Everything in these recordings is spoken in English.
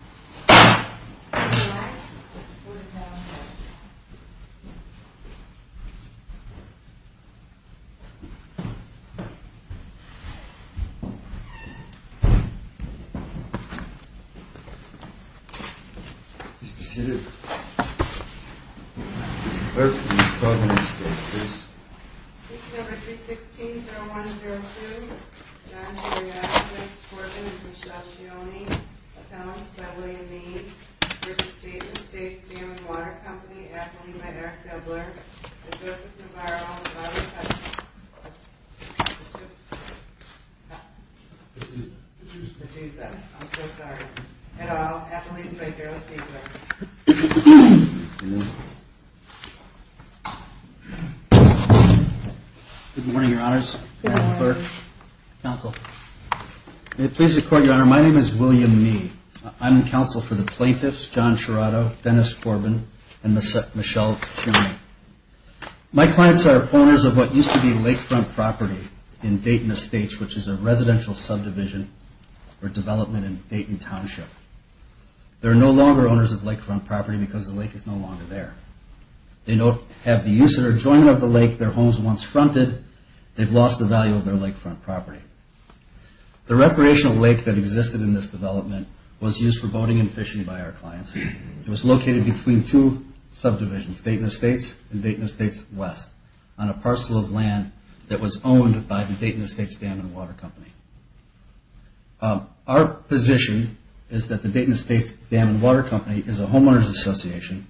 I hope you can see this. This is number 316-0102, and I'm here to ask for the support of Ms. Michelle Cioni, a panelist by way of name, for the state and state's dam and water company, Appalooma Eric Dubler, and Joseph Navarro, on behalf of the federal government. I'm so sorry. At all, Appalooma's right here. Good morning, Your Honors. Good morning. May it please the Court, Your Honor, my name is William Mee. I'm counsel for the plaintiffs, John Chirotto, Dennis Corbin, and Michelle Cioni. My clients are owners of what used to be lakefront property in Dayton Estates, which is a residential subdivision for development in Dayton Township. They're no longer owners of lakefront property because the lake is no longer there. They don't have the use or enjoyment of the lake their homes once fronted. They've lost the value of their lakefront property. The recreational lake that existed in this development was used for boating and fishing by our clients. It was located between two subdivisions, Dayton Estates and Dayton Estates West, on a parcel of land that was owned by the Dayton Estates Dam and Water Company. Our position is that the Dayton Estates Dam and Water Company is a homeowners association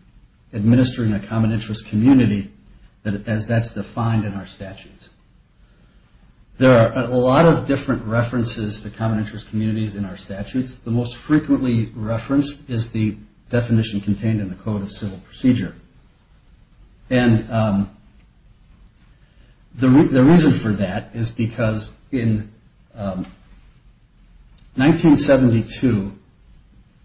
administering a common interest community as that's defined in our statutes. There are a lot of different references to common interest communities in our statutes. The most frequently referenced is the definition contained in the Code of Civil Procedure. And the reason for that is because in 1972,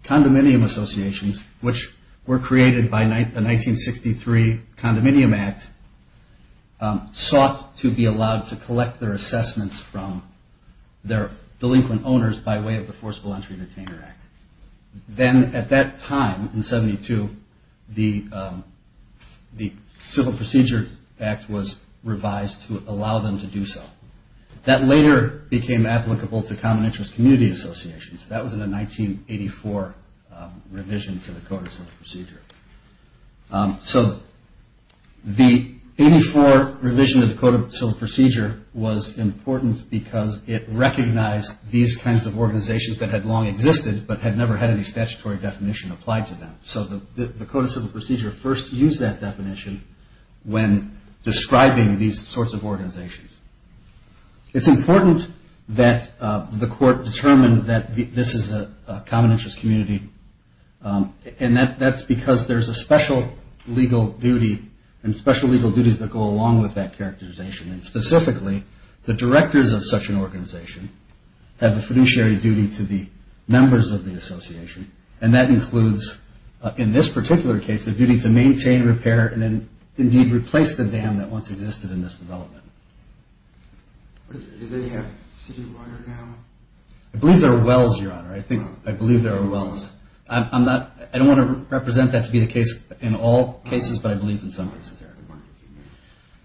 condominium associations, which were created by the 1963 Condominium Act, sought to be allowed to collect their assessments from their delinquent owners by way of the Forcible Entry Detainer Act. Then at that time, in 72, the Civil Procedure Act was revised to allow them to do so. That later became applicable to common interest community associations. That was in the 1984 revision to the Code of Civil Procedure. So the 84 revision of the Code of Civil Procedure was important because it recognized these kinds of organizations that had long existed, but had never had any statutory definition applied to them. So the Code of Civil Procedure first used that definition when describing these sorts of organizations. It's important that the court determined that this is a common interest community. And that's because there's a special legal duty, and special legal duties that go along with that characterization. And specifically, the directors of such an organization have a fiduciary duty to the members of the association. And that includes, in this particular case, the duty to maintain, repair, and then indeed replace the dam that once existed in this development. Do they have city water now? I believe there are wells, Your Honor. I believe there are wells. I don't want to represent that to be the case in all cases, but I believe in some cases there are.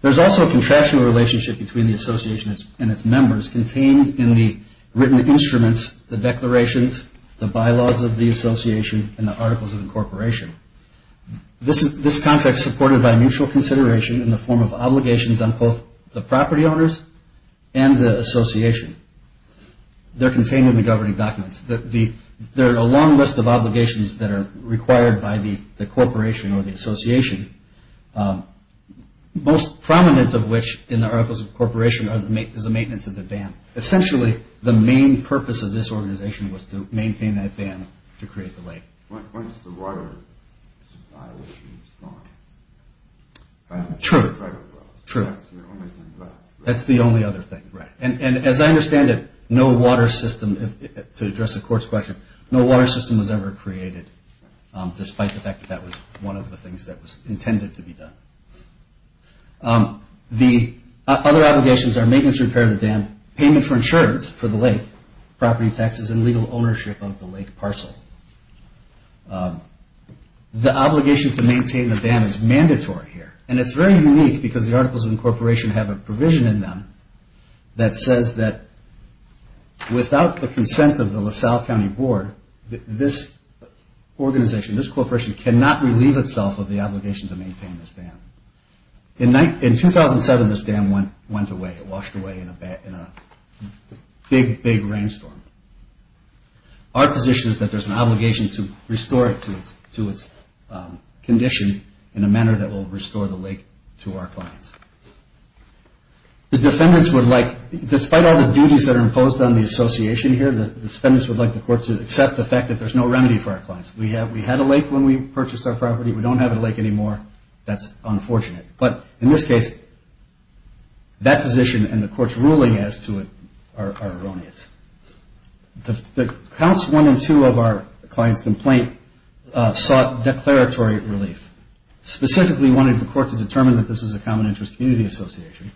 There's also a contractual relationship between the association and its members contained in the written instruments, the declarations, the bylaws of the association, and the Articles of Incorporation. This contract's supported by mutual consideration in the form of obligations on both the property owners and the association. They're contained in the governing documents. There are a long list of obligations that are required by the corporation or the association, most prominent of which in the Articles of Incorporation is the maintenance of the dam. Essentially, the main purpose of this organization was to maintain that dam to create the lake. When is the water supply issue gone? True. That's the only thing left. That's the only other thing, right. And as I understand it, no water system, to address the court's question, no water system was ever created despite the fact that that was one of the things that was intended to be done. The other obligations are maintenance, repair of the dam, payment for insurance for the lake, property taxes, and legal ownership of the lake parcel. The obligation to maintain the dam is mandatory here, and it's very unique because the Articles of Incorporation have a provision in them that says that without the consent of the LaSalle County Board, this organization, this corporation cannot relieve itself of the obligation to maintain this dam. In 2007, this dam went away. It washed away in a big, big rainstorm. Our position is that there's an obligation to restore it to its condition in a manner that will restore the lake to our clients. The defendants would like, despite all the duties that are imposed on the association here, the defendants would like the court to accept the fact that there's no remedy for our clients. We had a lake when we purchased our property. We don't have a lake anymore. That's unfortunate. But in this case, that position and the court's ruling as to it are erroneous. The counts one and two of our client's complaint sought declaratory relief. Specifically, we wanted the court to determine that this was a common interest community association.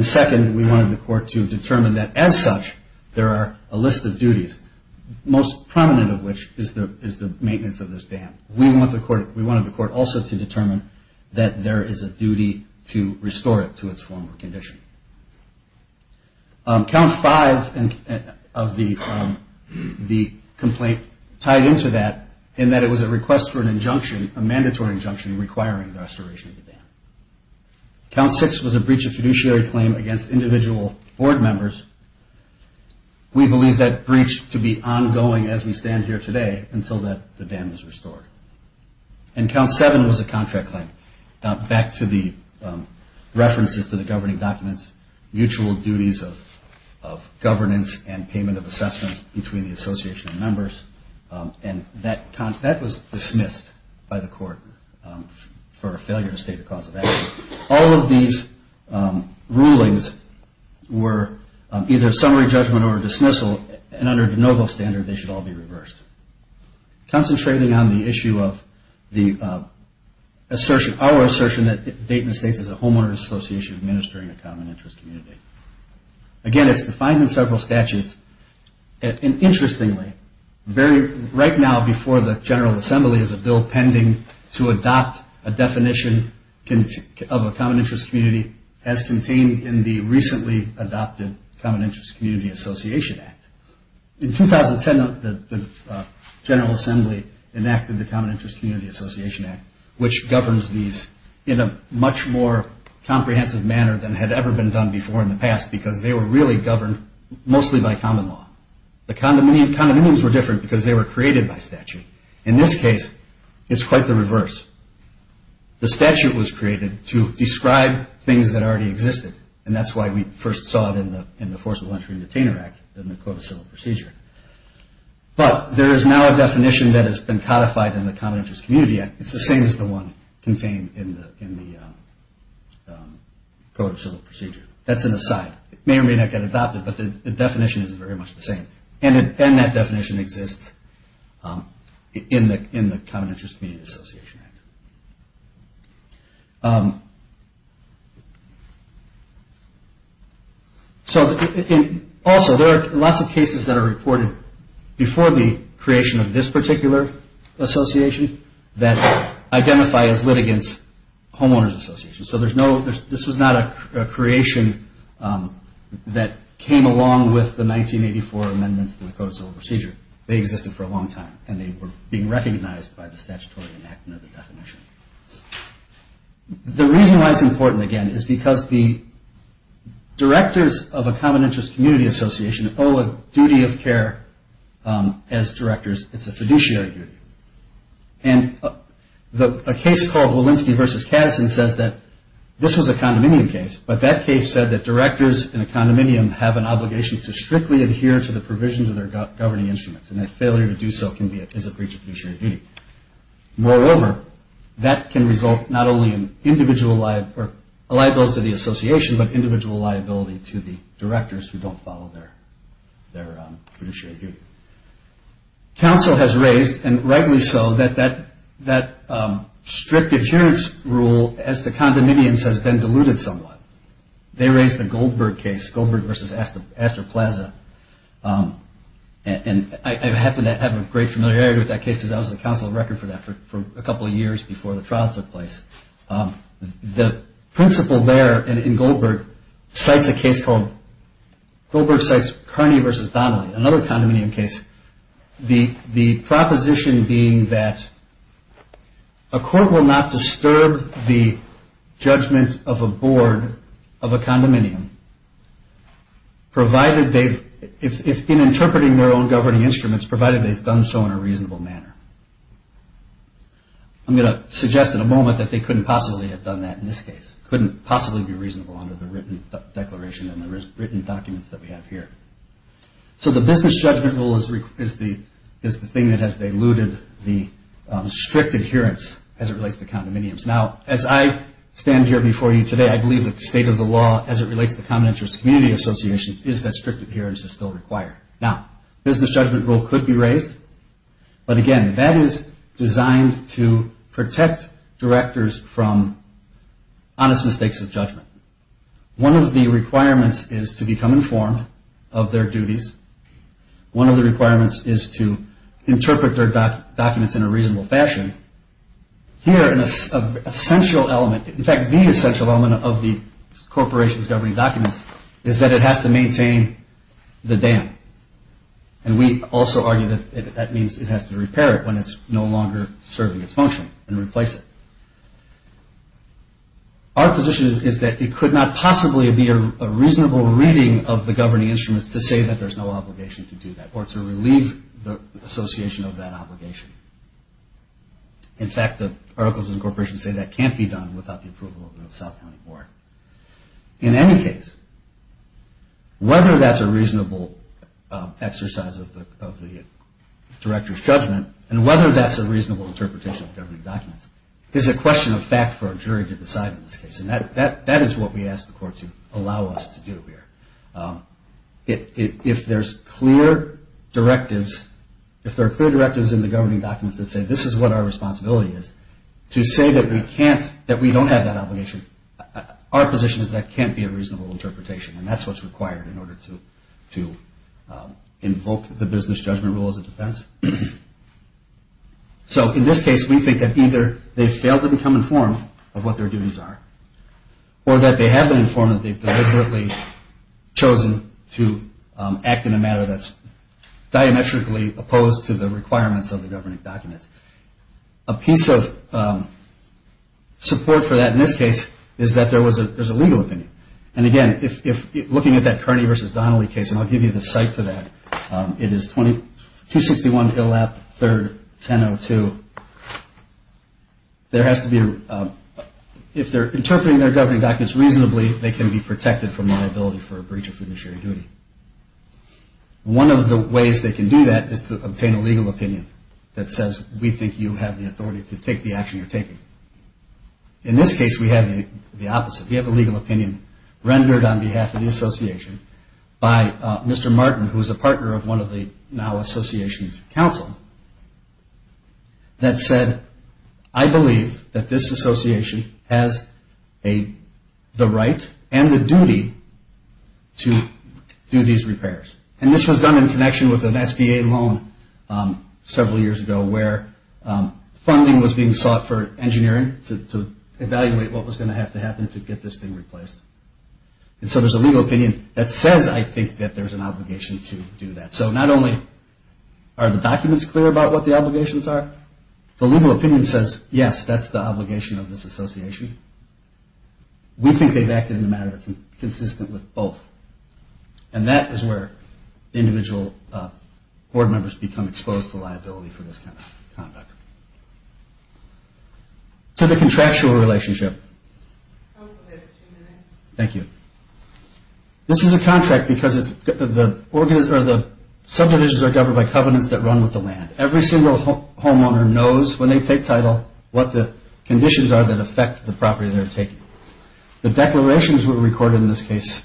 Second, we wanted the court to determine that, as such, there are a list of duties, most prominent of which is the maintenance of this dam. And we wanted the court also to determine that there is a duty to restore it to its former condition. Count five of the complaint tied into that in that it was a request for an injunction, a mandatory injunction requiring the restoration of the dam. Count six was a breach of fiduciary claim against individual board members. We believe that breach to be ongoing as we stand here today until the dam is restored. And count seven was a contract claim. Back to the references to the governing documents, mutual duties of governance and payment of assessments between the association members, and that was dismissed by the court for a failure to state a cause of action. All of these rulings were either summary judgment or dismissal, and under de novo standard they should all be reversed. Concentrating on the issue of our assertion that Dayton Estates is a homeowner association administering a common interest community. Again, it's defined in several statutes. And interestingly, right now before the General Assembly is a bill pending to adopt a definition of a common interest community as contained in the recently adopted Common Interest Community Association Act. In 2010, the General Assembly enacted the Common Interest Community Association Act, which governs these in a much more comprehensive manner than had ever been done before in the past because they were really governed mostly by common law. The condominiums were different because they were created by statute. In this case, it's quite the reverse. The statute was created to describe things that already existed, and that's why we first saw it in the Forcible Entry and Detainer Act in the Code of Civil Procedure. But there is now a definition that has been codified in the Common Interest Community Act. It's the same as the one contained in the Code of Civil Procedure. That's an aside. It may or may not get adopted, but the definition is very much the same. That definition exists in the Common Interest Community Association Act. Also, there are lots of cases that are reported before the creation of this particular association that identify as litigants homeowners associations. This was not a creation that came along with the 1984 amendments to the Code of Civil Procedure. They existed for a long time, and they were being recognized by the statutory enactment of the definition. The reason why it's important, again, is because the directors of a common interest community association owe a duty of care as directors. It's a fiduciary duty. And a case called Walensky v. Katteson says that this was a condominium case, but that case said that directors in a condominium have an obligation to strictly adhere to the provisions of their governing instruments, and that failure to do so is a breach of fiduciary duty. Moreover, that can result not only in a liability to the association, but individual liability to the directors who don't follow their fiduciary duty. Council has raised, and rightly so, that that strict adherence rule as to condominiums has been diluted somewhat. They raised the Goldberg case, Goldberg v. Astor Plaza, and I happen to have a great familiarity with that case because I was on the council of record for that for a couple of years before the trial took place. The principal there in Goldberg cites a case called, Goldberg cites Carney v. Donnelly, another condominium case, the proposition being that a court will not disturb the judgment of a board of a condominium provided they've, in interpreting their own governing instruments, provided they've done so in a reasonable manner. I'm going to suggest in a moment that they couldn't possibly have done that in this case, couldn't possibly be reasonable under the written declaration and the written documents that we have here. So the business judgment rule is the thing that has diluted the strict adherence as it relates to condominiums. Now, as I stand here before you today, I believe that the state of the law as it relates to the common interest community associations is that strict adherence is still required. Now, business judgment rule could be raised, but again, that is designed to protect directors from honest mistakes of judgment. One of the requirements is to become informed of their duties. One of the requirements is to interpret their documents in a reasonable fashion. Here, an essential element, in fact, the essential element of the corporation's governing documents is that it has to maintain the dam. And we also argue that that means it has to repair it when it's no longer serving its function and replace it. Our position is that it could not possibly be a reasonable reading of the governing instruments to say that there's no obligation to do that or to relieve the association of that obligation. In fact, the Articles of Incorporation say that can't be done without the approval of the South County Board. In any case, whether that's a reasonable exercise of the director's judgment and whether that's a reasonable interpretation of the governing documents is a question of fact for a jury to decide in this case. And that is what we ask the court to allow us to do here. If there's clear directives, if there are clear directives in the governing documents that say this is what our responsibility is, to say that we can't, that we don't have that obligation, our position is that can't be a reasonable interpretation. And that's what's required in order to invoke the business judgment rule as a defense. So in this case, we think that either they failed to become informed of what their duties are or that they have been informed that they've deliberately chosen to act in a matter that's diametrically opposed to the requirements of the governing documents. A piece of support for that in this case is that there was a legal opinion. And again, looking at that Kearney v. Donnelly case, and I'll give you the site for that, it is 261 Illap 3rd, 1002. There has to be a – if they're interpreting their governing documents reasonably, they can be protected from liability for a breach of fiduciary duty. One of the ways they can do that is to obtain a legal opinion that says we think you have the authority to take the action you're taking. In this case, we have the opposite. We have a legal opinion rendered on behalf of the association by Mr. Martin, who is a partner of one of the now associations counsel, that said, I believe that this association has the right and the duty to do these repairs. And this was done in connection with an SBA loan several years ago where funding was being sought for engineering to evaluate what was going to have to happen to get this thing replaced. And so there's a legal opinion that says, I think, that there's an obligation to do that. So not only are the documents clear about what the obligations are, the legal opinion says, yes, that's the obligation of this association. We think they've acted in a manner that's consistent with both. And that is where individual board members become exposed to liability for this kind of conduct. To the contractual relationship. Thank you. This is a contract because the subdivisions are governed by covenants that run with the land. Every single homeowner knows when they take title what the conditions are that affect the property they're taking. The declarations were recorded in this case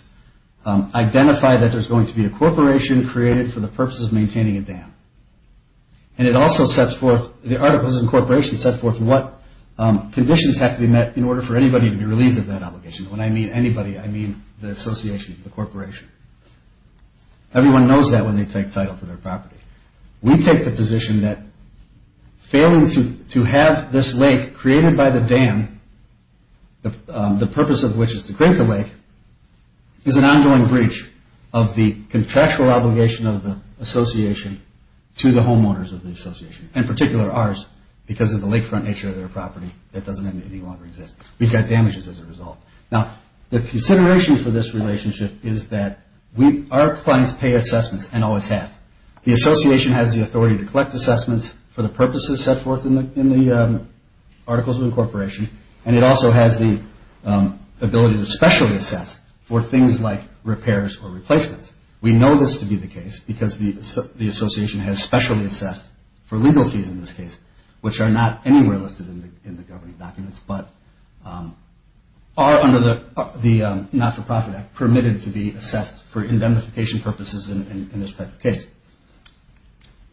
identify that there's going to be a corporation created for the purposes of maintaining a dam. And it also sets forth, the articles in corporation set forth what conditions have to be met in order for anybody to be relieved of that obligation. When I mean anybody, I mean the association, the corporation. Everyone knows that when they take title to their property. We take the position that failing to have this lake created by the dam, the purpose of which is to create the lake, is an ongoing breach of the contractual obligation of the association to the homeowners of the association, in particular ours, because of the lakefront nature of their property. It doesn't any longer exist. We've got damages as a result. Now, the consideration for this relationship is that our clients pay assessments and always have. The association has the authority to collect assessments for the purposes set forth in the articles of incorporation. And it also has the ability to specially assess for things like repairs or damages. We know this to be the case because the association has specially assessed for legal fees in this case, which are not anywhere listed in the governing documents, but are under the Not-for-Profit Act permitted to be assessed for indemnification purposes in this type of case.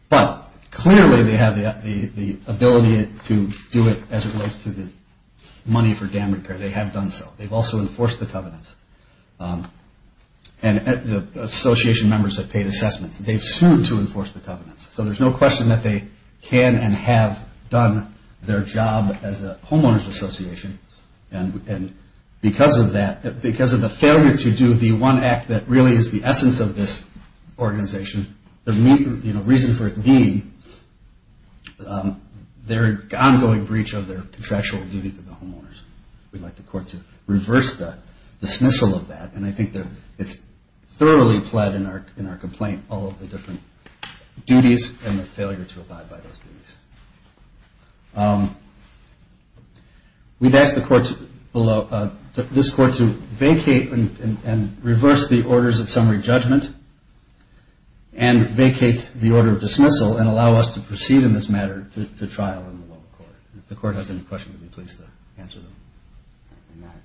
But clearly they have the ability to do it as it relates to the money for dam repair. They have done so. They've also enforced the covenants. And the association members have paid assessments. They've sued to enforce the covenants. So there's no question that they can and have done their job as a homeowners association. And because of that, because of the failure to do the one act that really is the essence of this organization, the reason for it being their ongoing breach of their contractual duty to the homeowners. We'd like the court to reverse the dismissal of that. And I think it's thoroughly fled in our complaint all of the different duties and the failure to abide by those duties. We've asked this court to vacate and reverse the orders of summary judgment and vacate the order of dismissal and allow us to proceed in this matter to trial in the local court. If the court has any questions, we'd be pleased to answer them.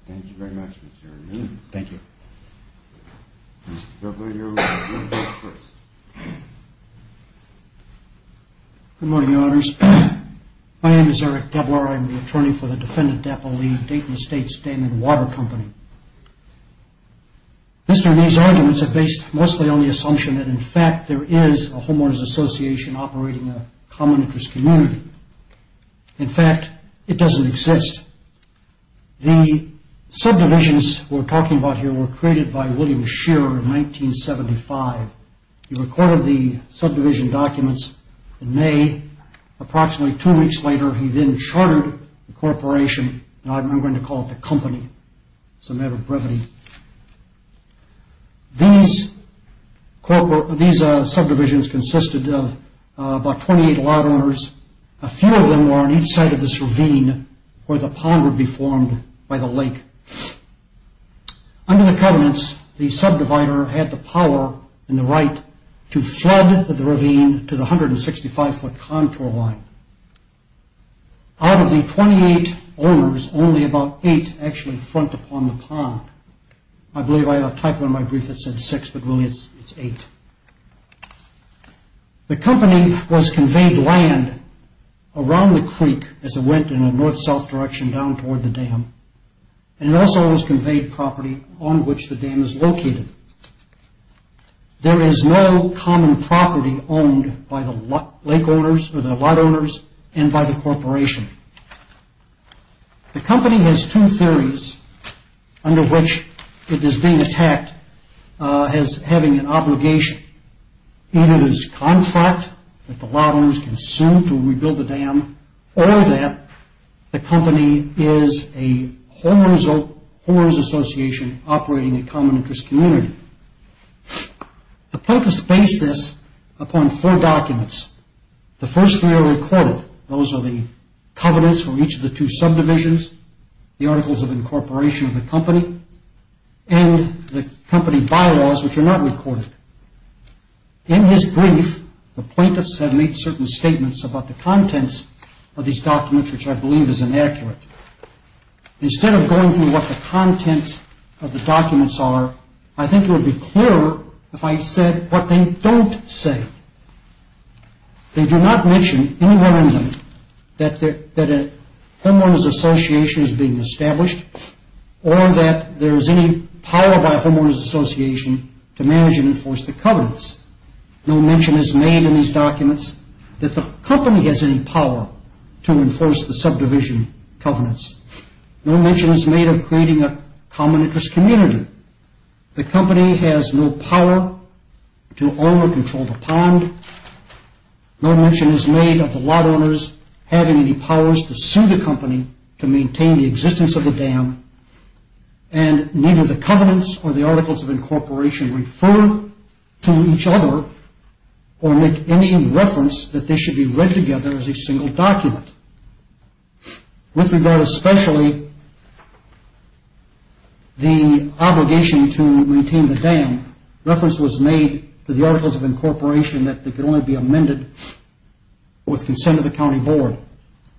Thank you very much, Mr. Dablor. Mr. Dablor, you're up first. Good morning, Your Honors. My name is Eric Dablor. I'm the attorney for the defendant, Dapolee, Dayton Estates Dam and Water Company. Mr. Ney's arguments are based mostly on the assumption that in fact there is a homeowners association operating a common interest community. In fact, it doesn't exist. The subdivisions we're talking about here were created by William Shearer in 1975. He recorded the subdivision documents in May. Approximately two weeks later, he then chartered the corporation, and I'm going to call it the company. It's a matter of brevity. These subdivisions consisted of about 28 lot owners. A few of them were on each side of this ravine where the pond would be formed by the lake. Under the covenants, the subdivider had the power and the right to flood the ravine to the 165-foot contour line. Out of the 28 owners, only about eight actually front upon the pond. I believe I have a typo in my brief that said six, but really it's eight. The company was conveyed land around the creek as it went in a north-south direction down toward the dam. It also was conveyed property on which the dam is located. There is no common property owned by the lake owners or the lot owners and by the corporation. The company has two theories under which it is being attacked as having an obligation. Either it is contract that the lot owners consume to rebuild the dam, or that the company is a whores association operating a common interest community. The plaintiffs base this upon four documents. The first three are recorded. Those are the covenants for each of the two subdivisions, the articles of incorporation of the company, and the company bylaws, which are not recorded. In his brief, the plaintiffs have made certain statements about the contents of these documents, which I believe is inaccurate. Instead of going through what the contents of the documents are, I think it would be clearer if I said what they don't say. They do not mention anywhere in them that a homeowner's association is being established or that there is any power by a homeowner's association to manage and enforce the covenants. No mention is made in these documents that the company has any power to enforce the covenants. No mention is made of creating a common interest community. The company has no power to own or control the pond. No mention is made of the lot owners having any powers to sue the company to maintain the existence of the dam, and neither the covenants or the articles of incorporation refer to each other or make any reference that they should be read together as a single document. With regard especially the obligation to retain the dam, reference was made to the articles of incorporation that could only be amended with consent of the county board.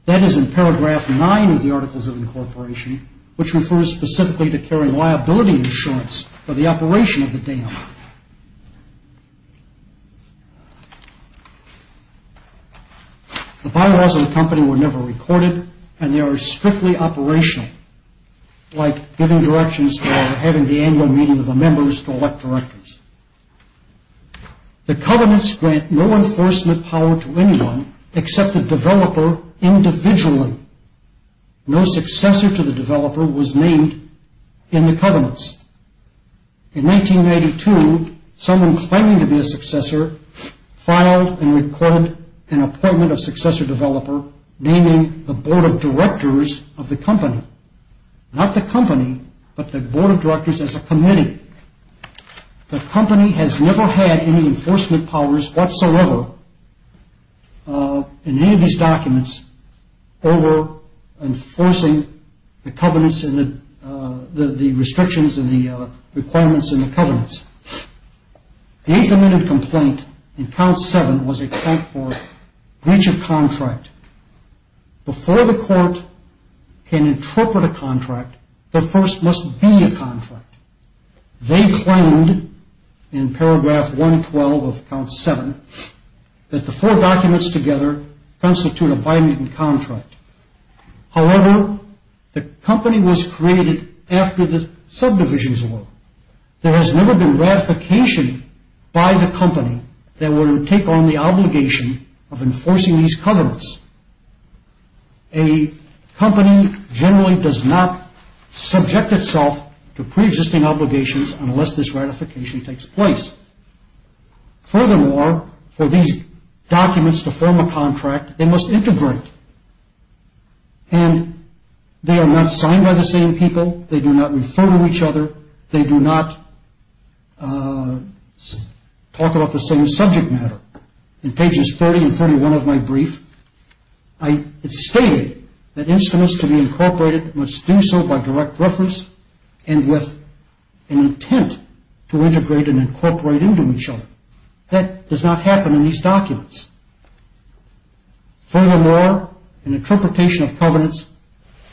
That is in paragraph nine of the articles of incorporation, which refers specifically to carrying liability insurance for the operation of the dam. The bylaws of the company were never recorded, and they are strictly operational, like giving directions for having the annual meeting of the members to elect directors. The covenants grant no enforcement power to anyone except the developer individually. No successor to the developer was named in the covenants. In 1992, someone claiming to be a successor, filed and recorded an appointment of successor developer, naming the board of directors of the company. Not the company, but the board of directors as a committee. The company has never had any enforcement powers whatsoever in any of these requirements in the covenants. The eighth amendment complaint in count seven was a complaint for breach of contract. Before the court can interpret a contract, the first must be a contract. They claimed in paragraph 112 of count seven that the four documents together constitute a bi-mutant contract. However, the company was created after the subdivisions were. There has never been ratification by the company that would take on the obligation of enforcing these covenants. A company generally does not subject itself to pre-existing obligations unless this ratification takes place. Furthermore, for these documents to form a contract, they must integrate. And they are not signed by the same people. They do not refer to each other. They do not talk about the same subject matter. In pages 30 and 31 of my brief, I stated that instruments to be incorporated must do so by direct and with an intent to integrate and incorporate into each other. That does not happen in these documents. Furthermore, an interpretation of covenants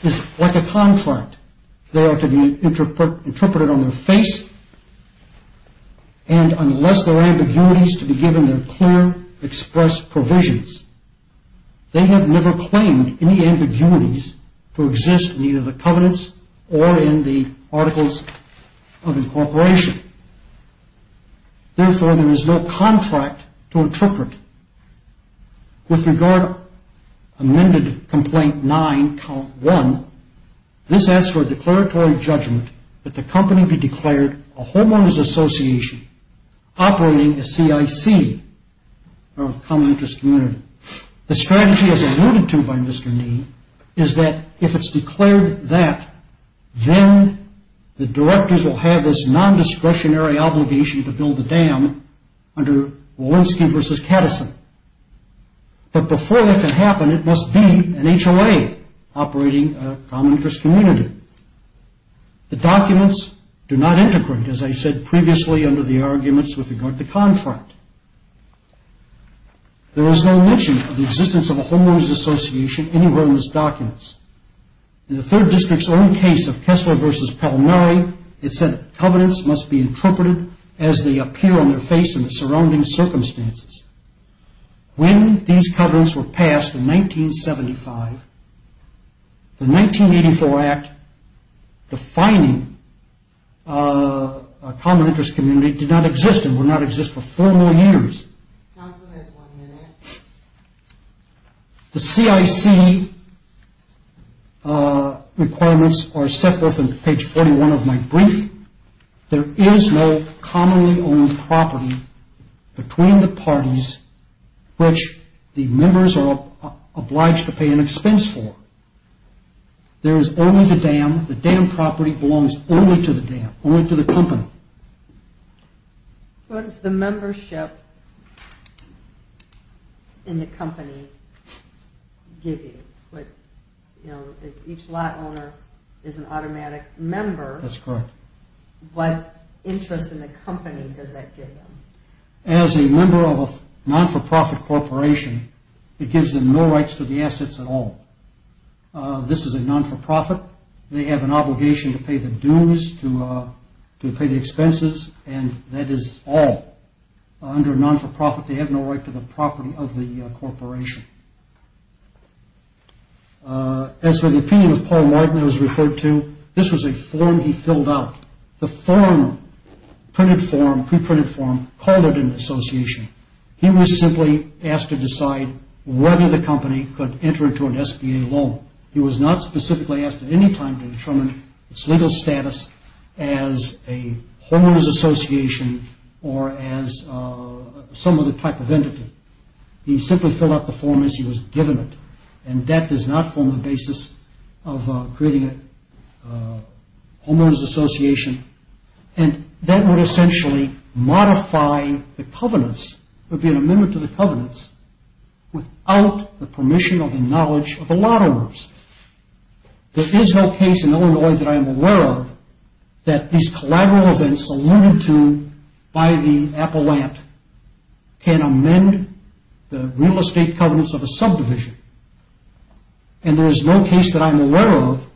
is like a contract. They are to be interpreted on their face, and unless there are ambiguities to be given, they're clear, expressed provisions. They have never claimed any ambiguities to exist in either the covenants or in the Articles of Incorporation. Therefore, there is no contract to interpret. With regard to Amended Complaint 9, Count 1, this asks for a declaratory judgment that the company be declared a homeowners association operating a CIC, or a common interest community. The strategy, as alluded to by Mr. Nee, is that if it's declared that, then the directors will have this nondiscretionary obligation to build the dam under Walensky v. Catteson. But before that can happen, it must be an HOA operating a common interest community. The documents do not integrate, as I said previously, under the arguments with regard to contract. There is no mention of the existence of a homeowners association anywhere in these documents. In the 3rd District's own case of Kessler v. Pell-9, it said that covenants must be interpreted as they appear on their face in the surrounding circumstances. When these covenants were passed in 1975, the 1984 Act defining a common interest community did not exist and would not exist for 4 million years. The CIC requirements are set forth in page 41 of my brief. There is no commonly owned property between the parties which the members are obliged to pay an expense for. There is only the dam. The dam property belongs only to the dam, only to the company. What does the membership in the company give you? Each lot owner is an automatic member. That's correct. What interest in the company does that give you? As a member of a non-for-profit corporation, it gives them no rights to the assets at all. This is a non-for-profit. They have an obligation to pay the dues, to pay the expenses, and that is all. Under a non-for-profit, they have no right to the property of the corporation. As for the opinion of Paul Martin that was referred to, this was a form he filled out. The form, printed form, pre-printed form, called it an association. He was simply asked to decide whether the company could enter into an SBA loan. He was not specifically asked at any time to determine its legal status as a homeowners association or as some other type of entity. He simply filled out the form as he was given it, and that does not form the basis of creating a homeowners association. That would essentially modify the covenants. It would be an amendment to the covenants without the permission or the knowledge of the lot owners. There is no case in Illinois that I am aware of that these collateral events alluded to by the appellant can amend the real estate covenants of a subdivision, and there is no case that I am aware of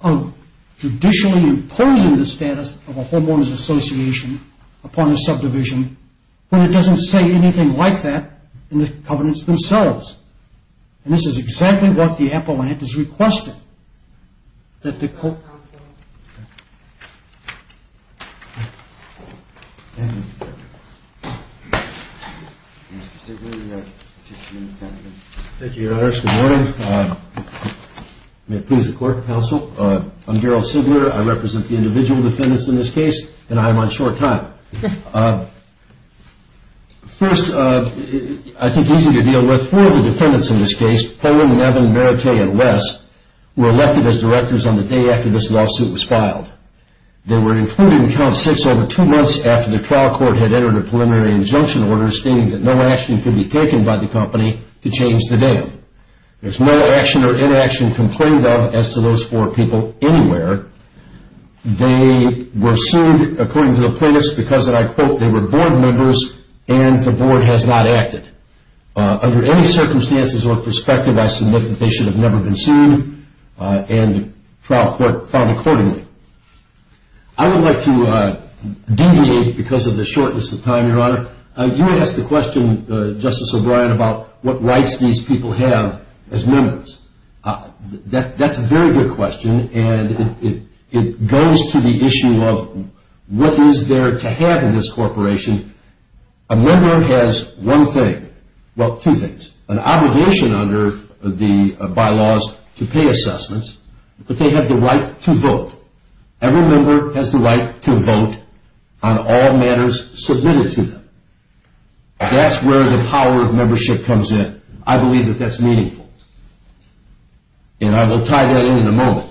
of judicially imposing the status of a homeowners association upon a subdivision when it doesn't say anything like that in the covenants themselves. And this is exactly what the appellant is requesting. Thank you, Your Honor. Good morning. May it please the court, counsel. I'm Darrell Singler. I represent the individual defendants in this case, and I am on short time. First, I think easy to deal with. Four of the defendants in this case, Poland, Nevin, Merite, and Wes, were elected as directors on the day after this lawsuit was filed. They were included in count six over two months after the trial court had entered a preliminary injunction order stating that no action could be taken by the company to change the name. There's no action or inaction complained of as to those four people anywhere. They were sued according to the plaintiffs because, and I quote, they were board members and the board has not acted. Under any circumstances or perspective, I submit that they should have never been sued and the trial court found accordingly. I would like to deviate because of the shortness of time, Your Honor. You asked the question, Justice O'Brien, about what rights these people have as members. That's a very good question, and it goes to the issue of what is there to have in this corporation. A member has one thing, well, two things, an obligation under the bylaws to pay assessments, but they have the right to vote. Every member has the right to vote on all matters submitted to them. That's where the power of membership comes in. I believe that that's meaningful, and I will tie that in in a moment.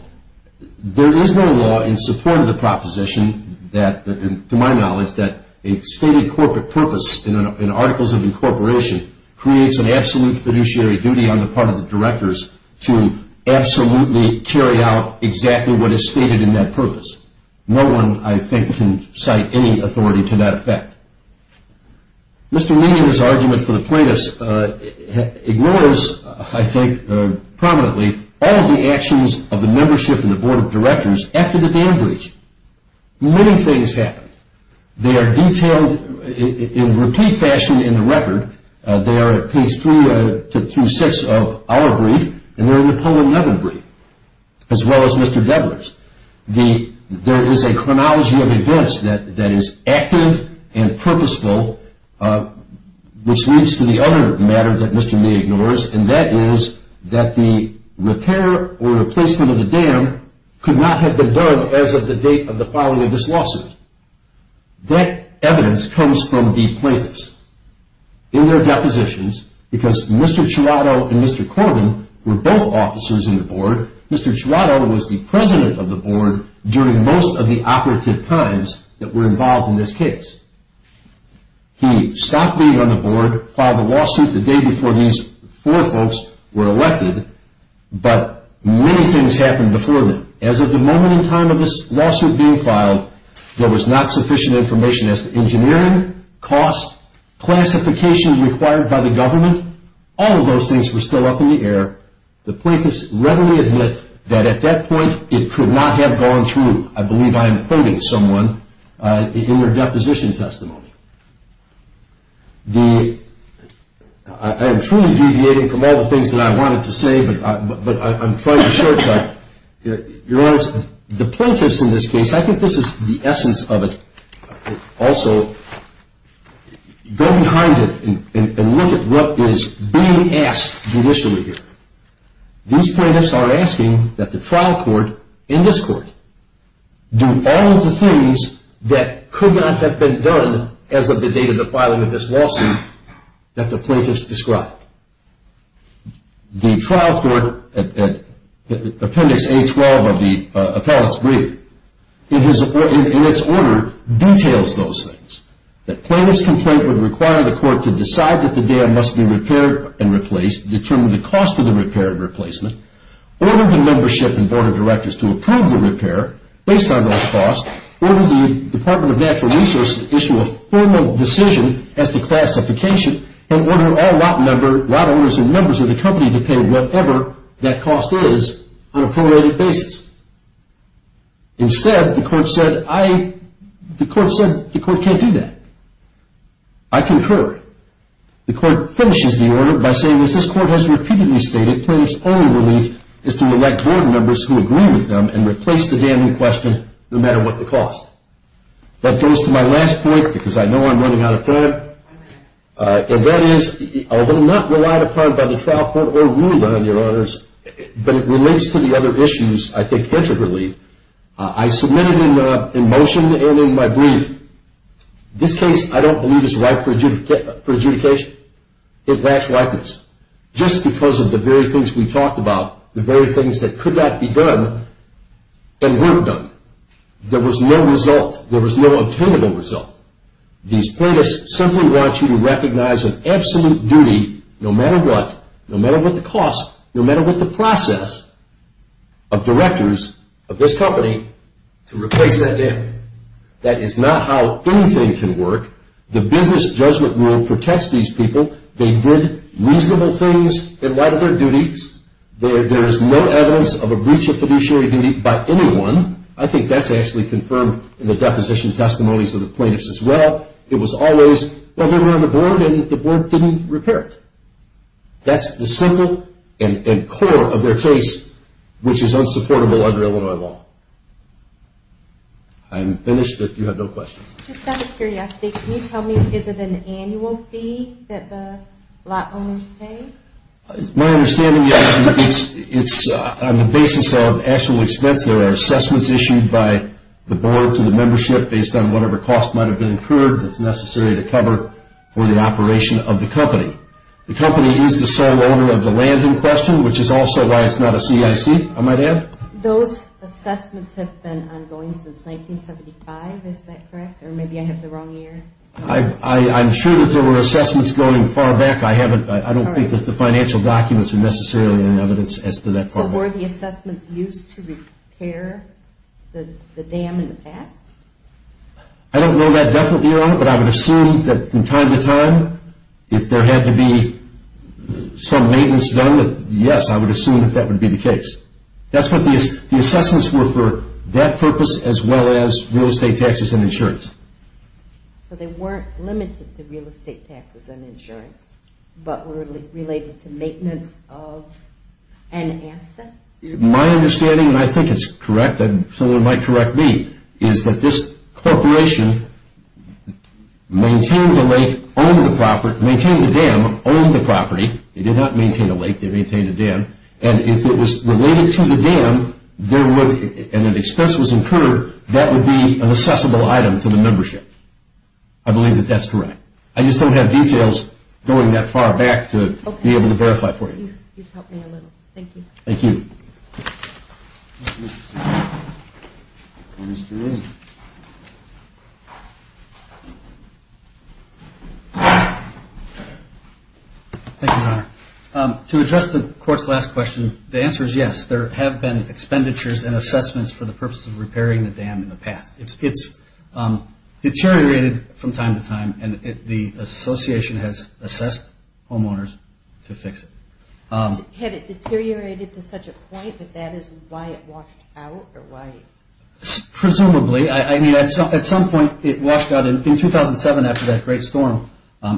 There is no law in support of the proposition that, to my knowledge, that a stated corporate purpose in articles of incorporation creates an absolute fiduciary duty on the part of the directors to absolutely carry out exactly what is stated in that purpose. No one, I think, can cite any authority to that effect. Mr. Meehan's argument for the plaintiffs ignores, I think prominently, all of the actions of the membership and the board of directors after the dam breach. Many things happened. They are detailed in repeat fashion in the record. They are at page three through six of our brief, and they're in the Poland-Levin brief, as well as Mr. Debra's. There is a chronology of events that is active and purposeful, which leads to the other matter that Mr. Meehan ignores, and that is that the repair or replacement of the dam could not have been done as of the date of the filing of this lawsuit. That evidence comes from the plaintiffs in their depositions, because Mr. Chiarotto and Mr. Corbin were both officers in the board. Mr. Chiarotto was the president of the board during most of the operative times that were involved in this case. He stopped being on the board, filed a lawsuit the day before these four folks were elected, but many things happened before then. As of the moment in time of this lawsuit being filed, there was not sufficient information as to engineering, cost, classification required by the government. All of those things were still up in the air. The plaintiffs readily admit that at that point it could not have gone through, I believe I am quoting someone, in their deposition testimony. I am truly deviating from all the things that I wanted to say, but I'm trying to short-circuit. Your Honor, the plaintiffs in this case, I think this is the essence of it. Also, go behind it and look at what is being asked judicially here. These plaintiffs are asking that the trial court in this court do all of the things that could not have been done as of the date of the filing of this lawsuit that the plaintiffs described. The trial court, Appendix A-12 of the appellate's brief, in its order details those things. The plaintiff's complaint would require the court to decide that the dam must be repaired and replaced, determine the cost of the repair and replacement, order the membership and board of directors to approve the repair based on those costs, order the Department of Natural Resources to issue a formal decision as to classification, and order all lot owners and members of the company to pay whatever that cost is on a prorated basis. Instead, the court said, the court can't do that. I concur. The court finishes the order by saying, as this court has repeatedly stated, plaintiff's only relief is to elect board members who agree with them and replace the dam in question no matter what the cost. That goes to my last point because I know I'm running out of time. And that is, although not relied upon by the trial court or ruled on, Your Honors, but it relates to the other issues I think intricately, I submitted in motion and in my brief, this case I don't believe is ripe for adjudication. It lacks ripeness just because of the very things we talked about, the very things that could not be done and weren't done. There was no result. There was no obtainable result. These plaintiffs simply want you to recognize an absolute duty, no matter what, no matter what the cost, no matter what the process, of directors of this company to replace that dam. That is not how anything can work. The business judgment rule protects these people. They did reasonable things in light of their duties. There is no evidence of a breach of fiduciary duty by anyone. I think that's actually confirmed in the deposition testimonies of the plaintiffs as well. It was always, well, they were on the board and the board didn't repair it. That's the symbol and core of their case, which is unsupportable under Illinois law. I'm finished if you have no questions. Just out of curiosity, can you tell me, is it an annual fee that the lot owners pay? My understanding is it's on the basis of actual expense. There are assessments issued by the board to the membership based on whatever cost might have been incurred that's necessary to cover for the operation of the company. The company is the sole owner of the land in question, which is also why it's not a CIC, I might add. Those assessments have been ongoing since 1975. Is that correct? Or maybe I have the wrong year? I'm sure that there were assessments going far back. I don't think that the financial documents are necessarily in evidence as to that part. So were the assessments used to repair the dam in the past? I don't know that definite year on it, but I would assume that from time to time, if there had to be some maintenance done, yes, I would assume that that would be the case. The assessments were for that purpose as well as real estate taxes and insurance. So they weren't limited to real estate taxes and insurance, but were related to maintenance of an asset? My understanding, and I think it's correct and someone might correct me, is that this corporation maintained the lake, owned the property, maintained the dam, owned the property. They did not maintain a lake. They maintained a dam. And if it was related to the dam and an expense was incurred, that would be an assessable item to the membership. I believe that that's correct. I just don't have details going that far back to be able to verify for you. You've helped me a little. Thank you. Thank you. Thank you, Your Honor. To address the Court's last question, the answer is yes. There have been expenditures and assessments for the purpose of repairing the dam in the past. It's deteriorated from time to time, and the association has assessed homeowners to fix it. Had it deteriorated to such a point that that is why it washed out? Presumably. I mean, at some point it washed out. In 2007, after that great storm,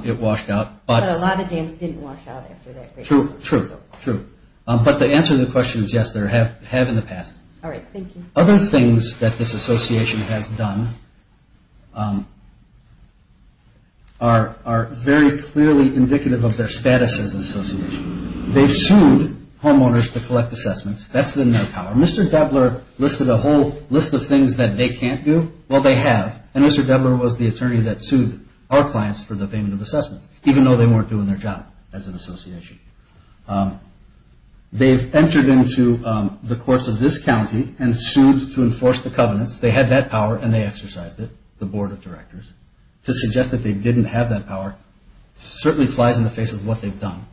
it washed out. But a lot of dams didn't wash out after that great storm. True, true, true. But the answer to the question is yes, there have in the past. All right. Thank you. Other things that this association has done are very clearly indicative of their status as an association. They've sued homeowners to collect assessments. That's in their power. Mr. Goebbeler listed a whole list of things that they can't do. Well, they have. And Mr. Goebbeler was the attorney that sued our clients for the payment of assessments, even though they weren't doing their job as an association. They've entered into the courts of this county and sued to enforce the covenants. They had that power, and they exercised it, the board of directors. To suggest that they didn't have that power certainly flies in the face of what they've done.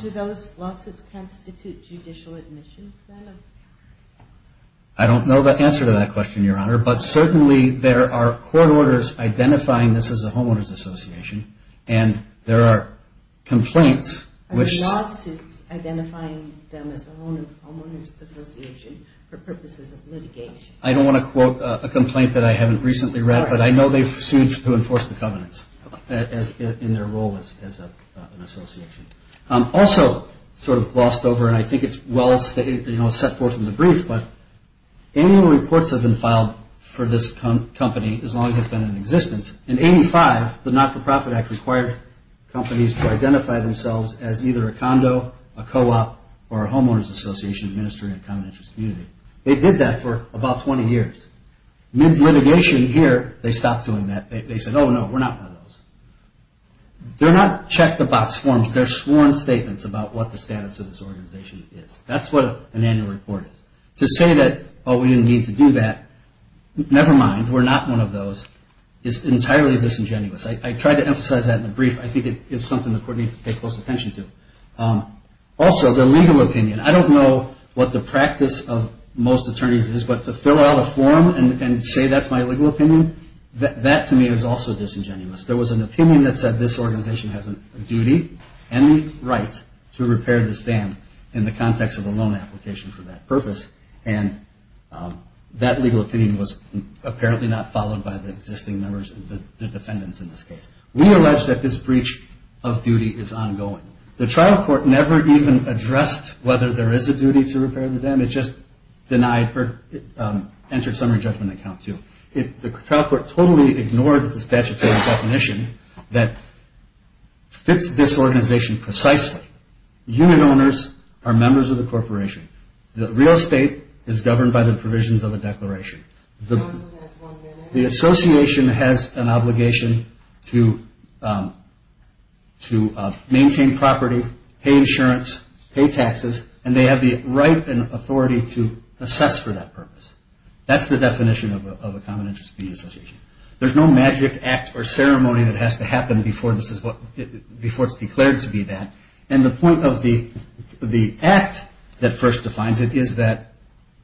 Do those lawsuits constitute judicial admissions, then? I don't know the answer to that question, Your Honor. But certainly there are court orders identifying this as a homeowners association, and there are complaints which- Are the lawsuits identifying them as a homeowners association for purposes of litigation? I don't want to quote a complaint that I haven't recently read, but I know they've sued to enforce the covenants in their role as an association. Also sort of glossed over, and I think it's well set forth in the brief, but annual reports have been filed for this company as long as it's been in existence. In 85, the Not-For-Profit Act required companies to identify themselves as either a condo, a co-op, or a homeowners association administering a common interest community. They did that for about 20 years. Mid-litigation here, they stopped doing that. They said, oh, no, we're not one of those. They're not checked about swarms. They're sworn statements about what the status of this organization is. That's what an annual report is. To say that, oh, we didn't need to do that, never mind, we're not one of those, is entirely disingenuous. I tried to emphasize that in the brief. I think it's something the court needs to pay close attention to. Also, the legal opinion. I don't know what the practice of most attorneys is, but to fill out a form and say that's my legal opinion, that to me is also disingenuous. There was an opinion that said this organization has a duty and the right to repair this dam in the context of a loan application for that purpose, and that legal opinion was apparently not followed by the existing members, the defendants in this case. We allege that this breach of duty is ongoing. The trial court never even addressed whether there is a duty to repair the dam. It just denied or entered some re-judgment account, too. The trial court totally ignored the statutory definition that fits this organization precisely. Unit owners are members of the corporation. The real estate is governed by the provisions of the declaration. The association has an obligation to maintain property, pay insurance, pay taxes, and they have the right and authority to assess for that purpose. That's the definition of a common interest duty association. There's no magic act or ceremony that has to happen before it's declared to be that, and the point of the act that first defines it is that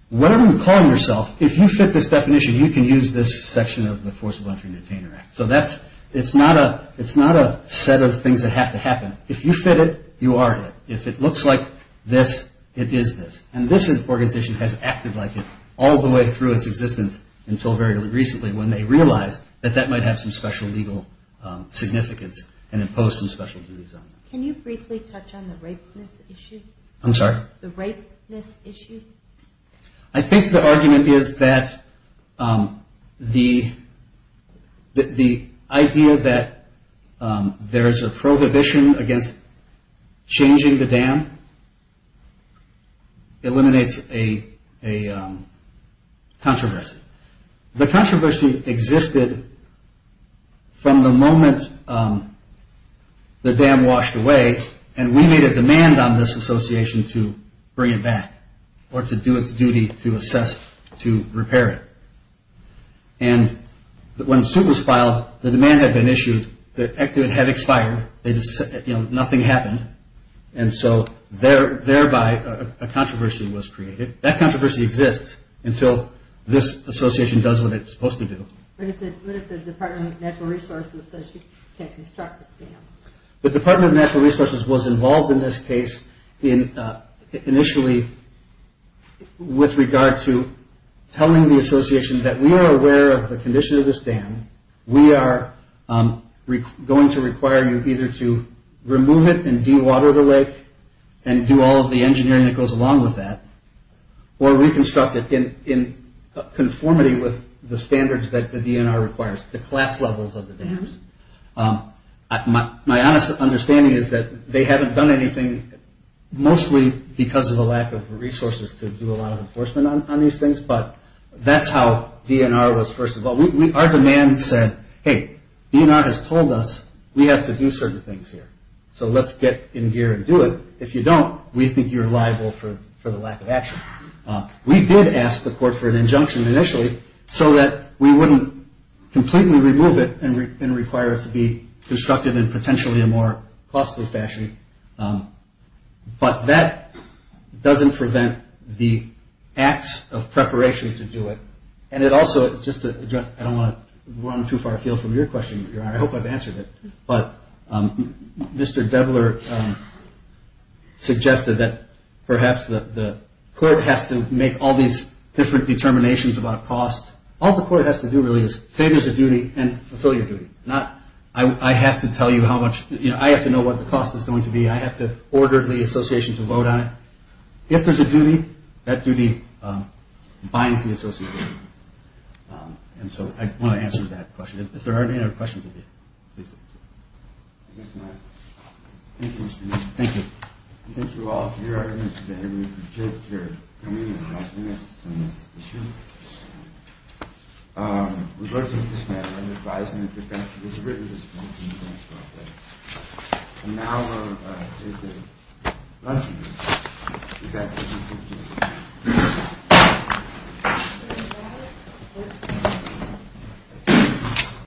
whatever you're calling yourself, if you fit this definition, you can use this section of the Forcible Entry and Detainer Act. So it's not a set of things that have to happen. If you fit it, you are it. If it looks like this, it is this, and this organization has acted like it all the way through its existence until very recently when they realized that that might have some special legal significance and impose some special duties on them. Can you briefly touch on the rapeness issue? I'm sorry? The rapeness issue. I think the argument is that the idea that there is a prohibition against changing the dam eliminates a controversy. The controversy existed from the moment the dam washed away, and we made a demand on this association to bring it back or to do its duty to assess to repair it. And when the suit was filed, the demand had been issued. It had expired. Nothing happened, and so thereby a controversy was created. That controversy exists until this association does what it's supposed to do. What if the Department of Natural Resources says you can't construct this dam? The Department of Natural Resources was involved in this case initially with regard to telling the association that we are aware of the condition of this dam. We are going to require you either to remove it and dewater the lake and do all of the engineering that goes along with that or reconstruct it in conformity with the standards that the DNR requires, the class levels of the dams. My honest understanding is that they haven't done anything, mostly because of a lack of resources to do a lot of enforcement on these things, but that's how DNR was first involved. Our demand said, hey, DNR has told us we have to do certain things here, so let's get in gear and do it. If you don't, we think you're liable for the lack of action. We did ask the court for an injunction initially so that we wouldn't completely remove it and require it to be constructed in potentially a more costly fashion, but that doesn't prevent the acts of preparation to do it. And it also, just to address, I don't want to run too far afield from your question, I hope I've answered it, but Mr. Devler suggested that perhaps the court has to make all these different determinations about cost. All the court has to do really is say there's a duty and fulfill your duty. I have to know what the cost is going to be. I have to order the association to vote on it. And so I want to answer that question. If there aren't any other questions, please. Thank you. Thank you all for your evidence today. We appreciate your coming and helping us on this issue. We voted on this matter. I'm advising that the statute is written. And now we'll do the luncheon.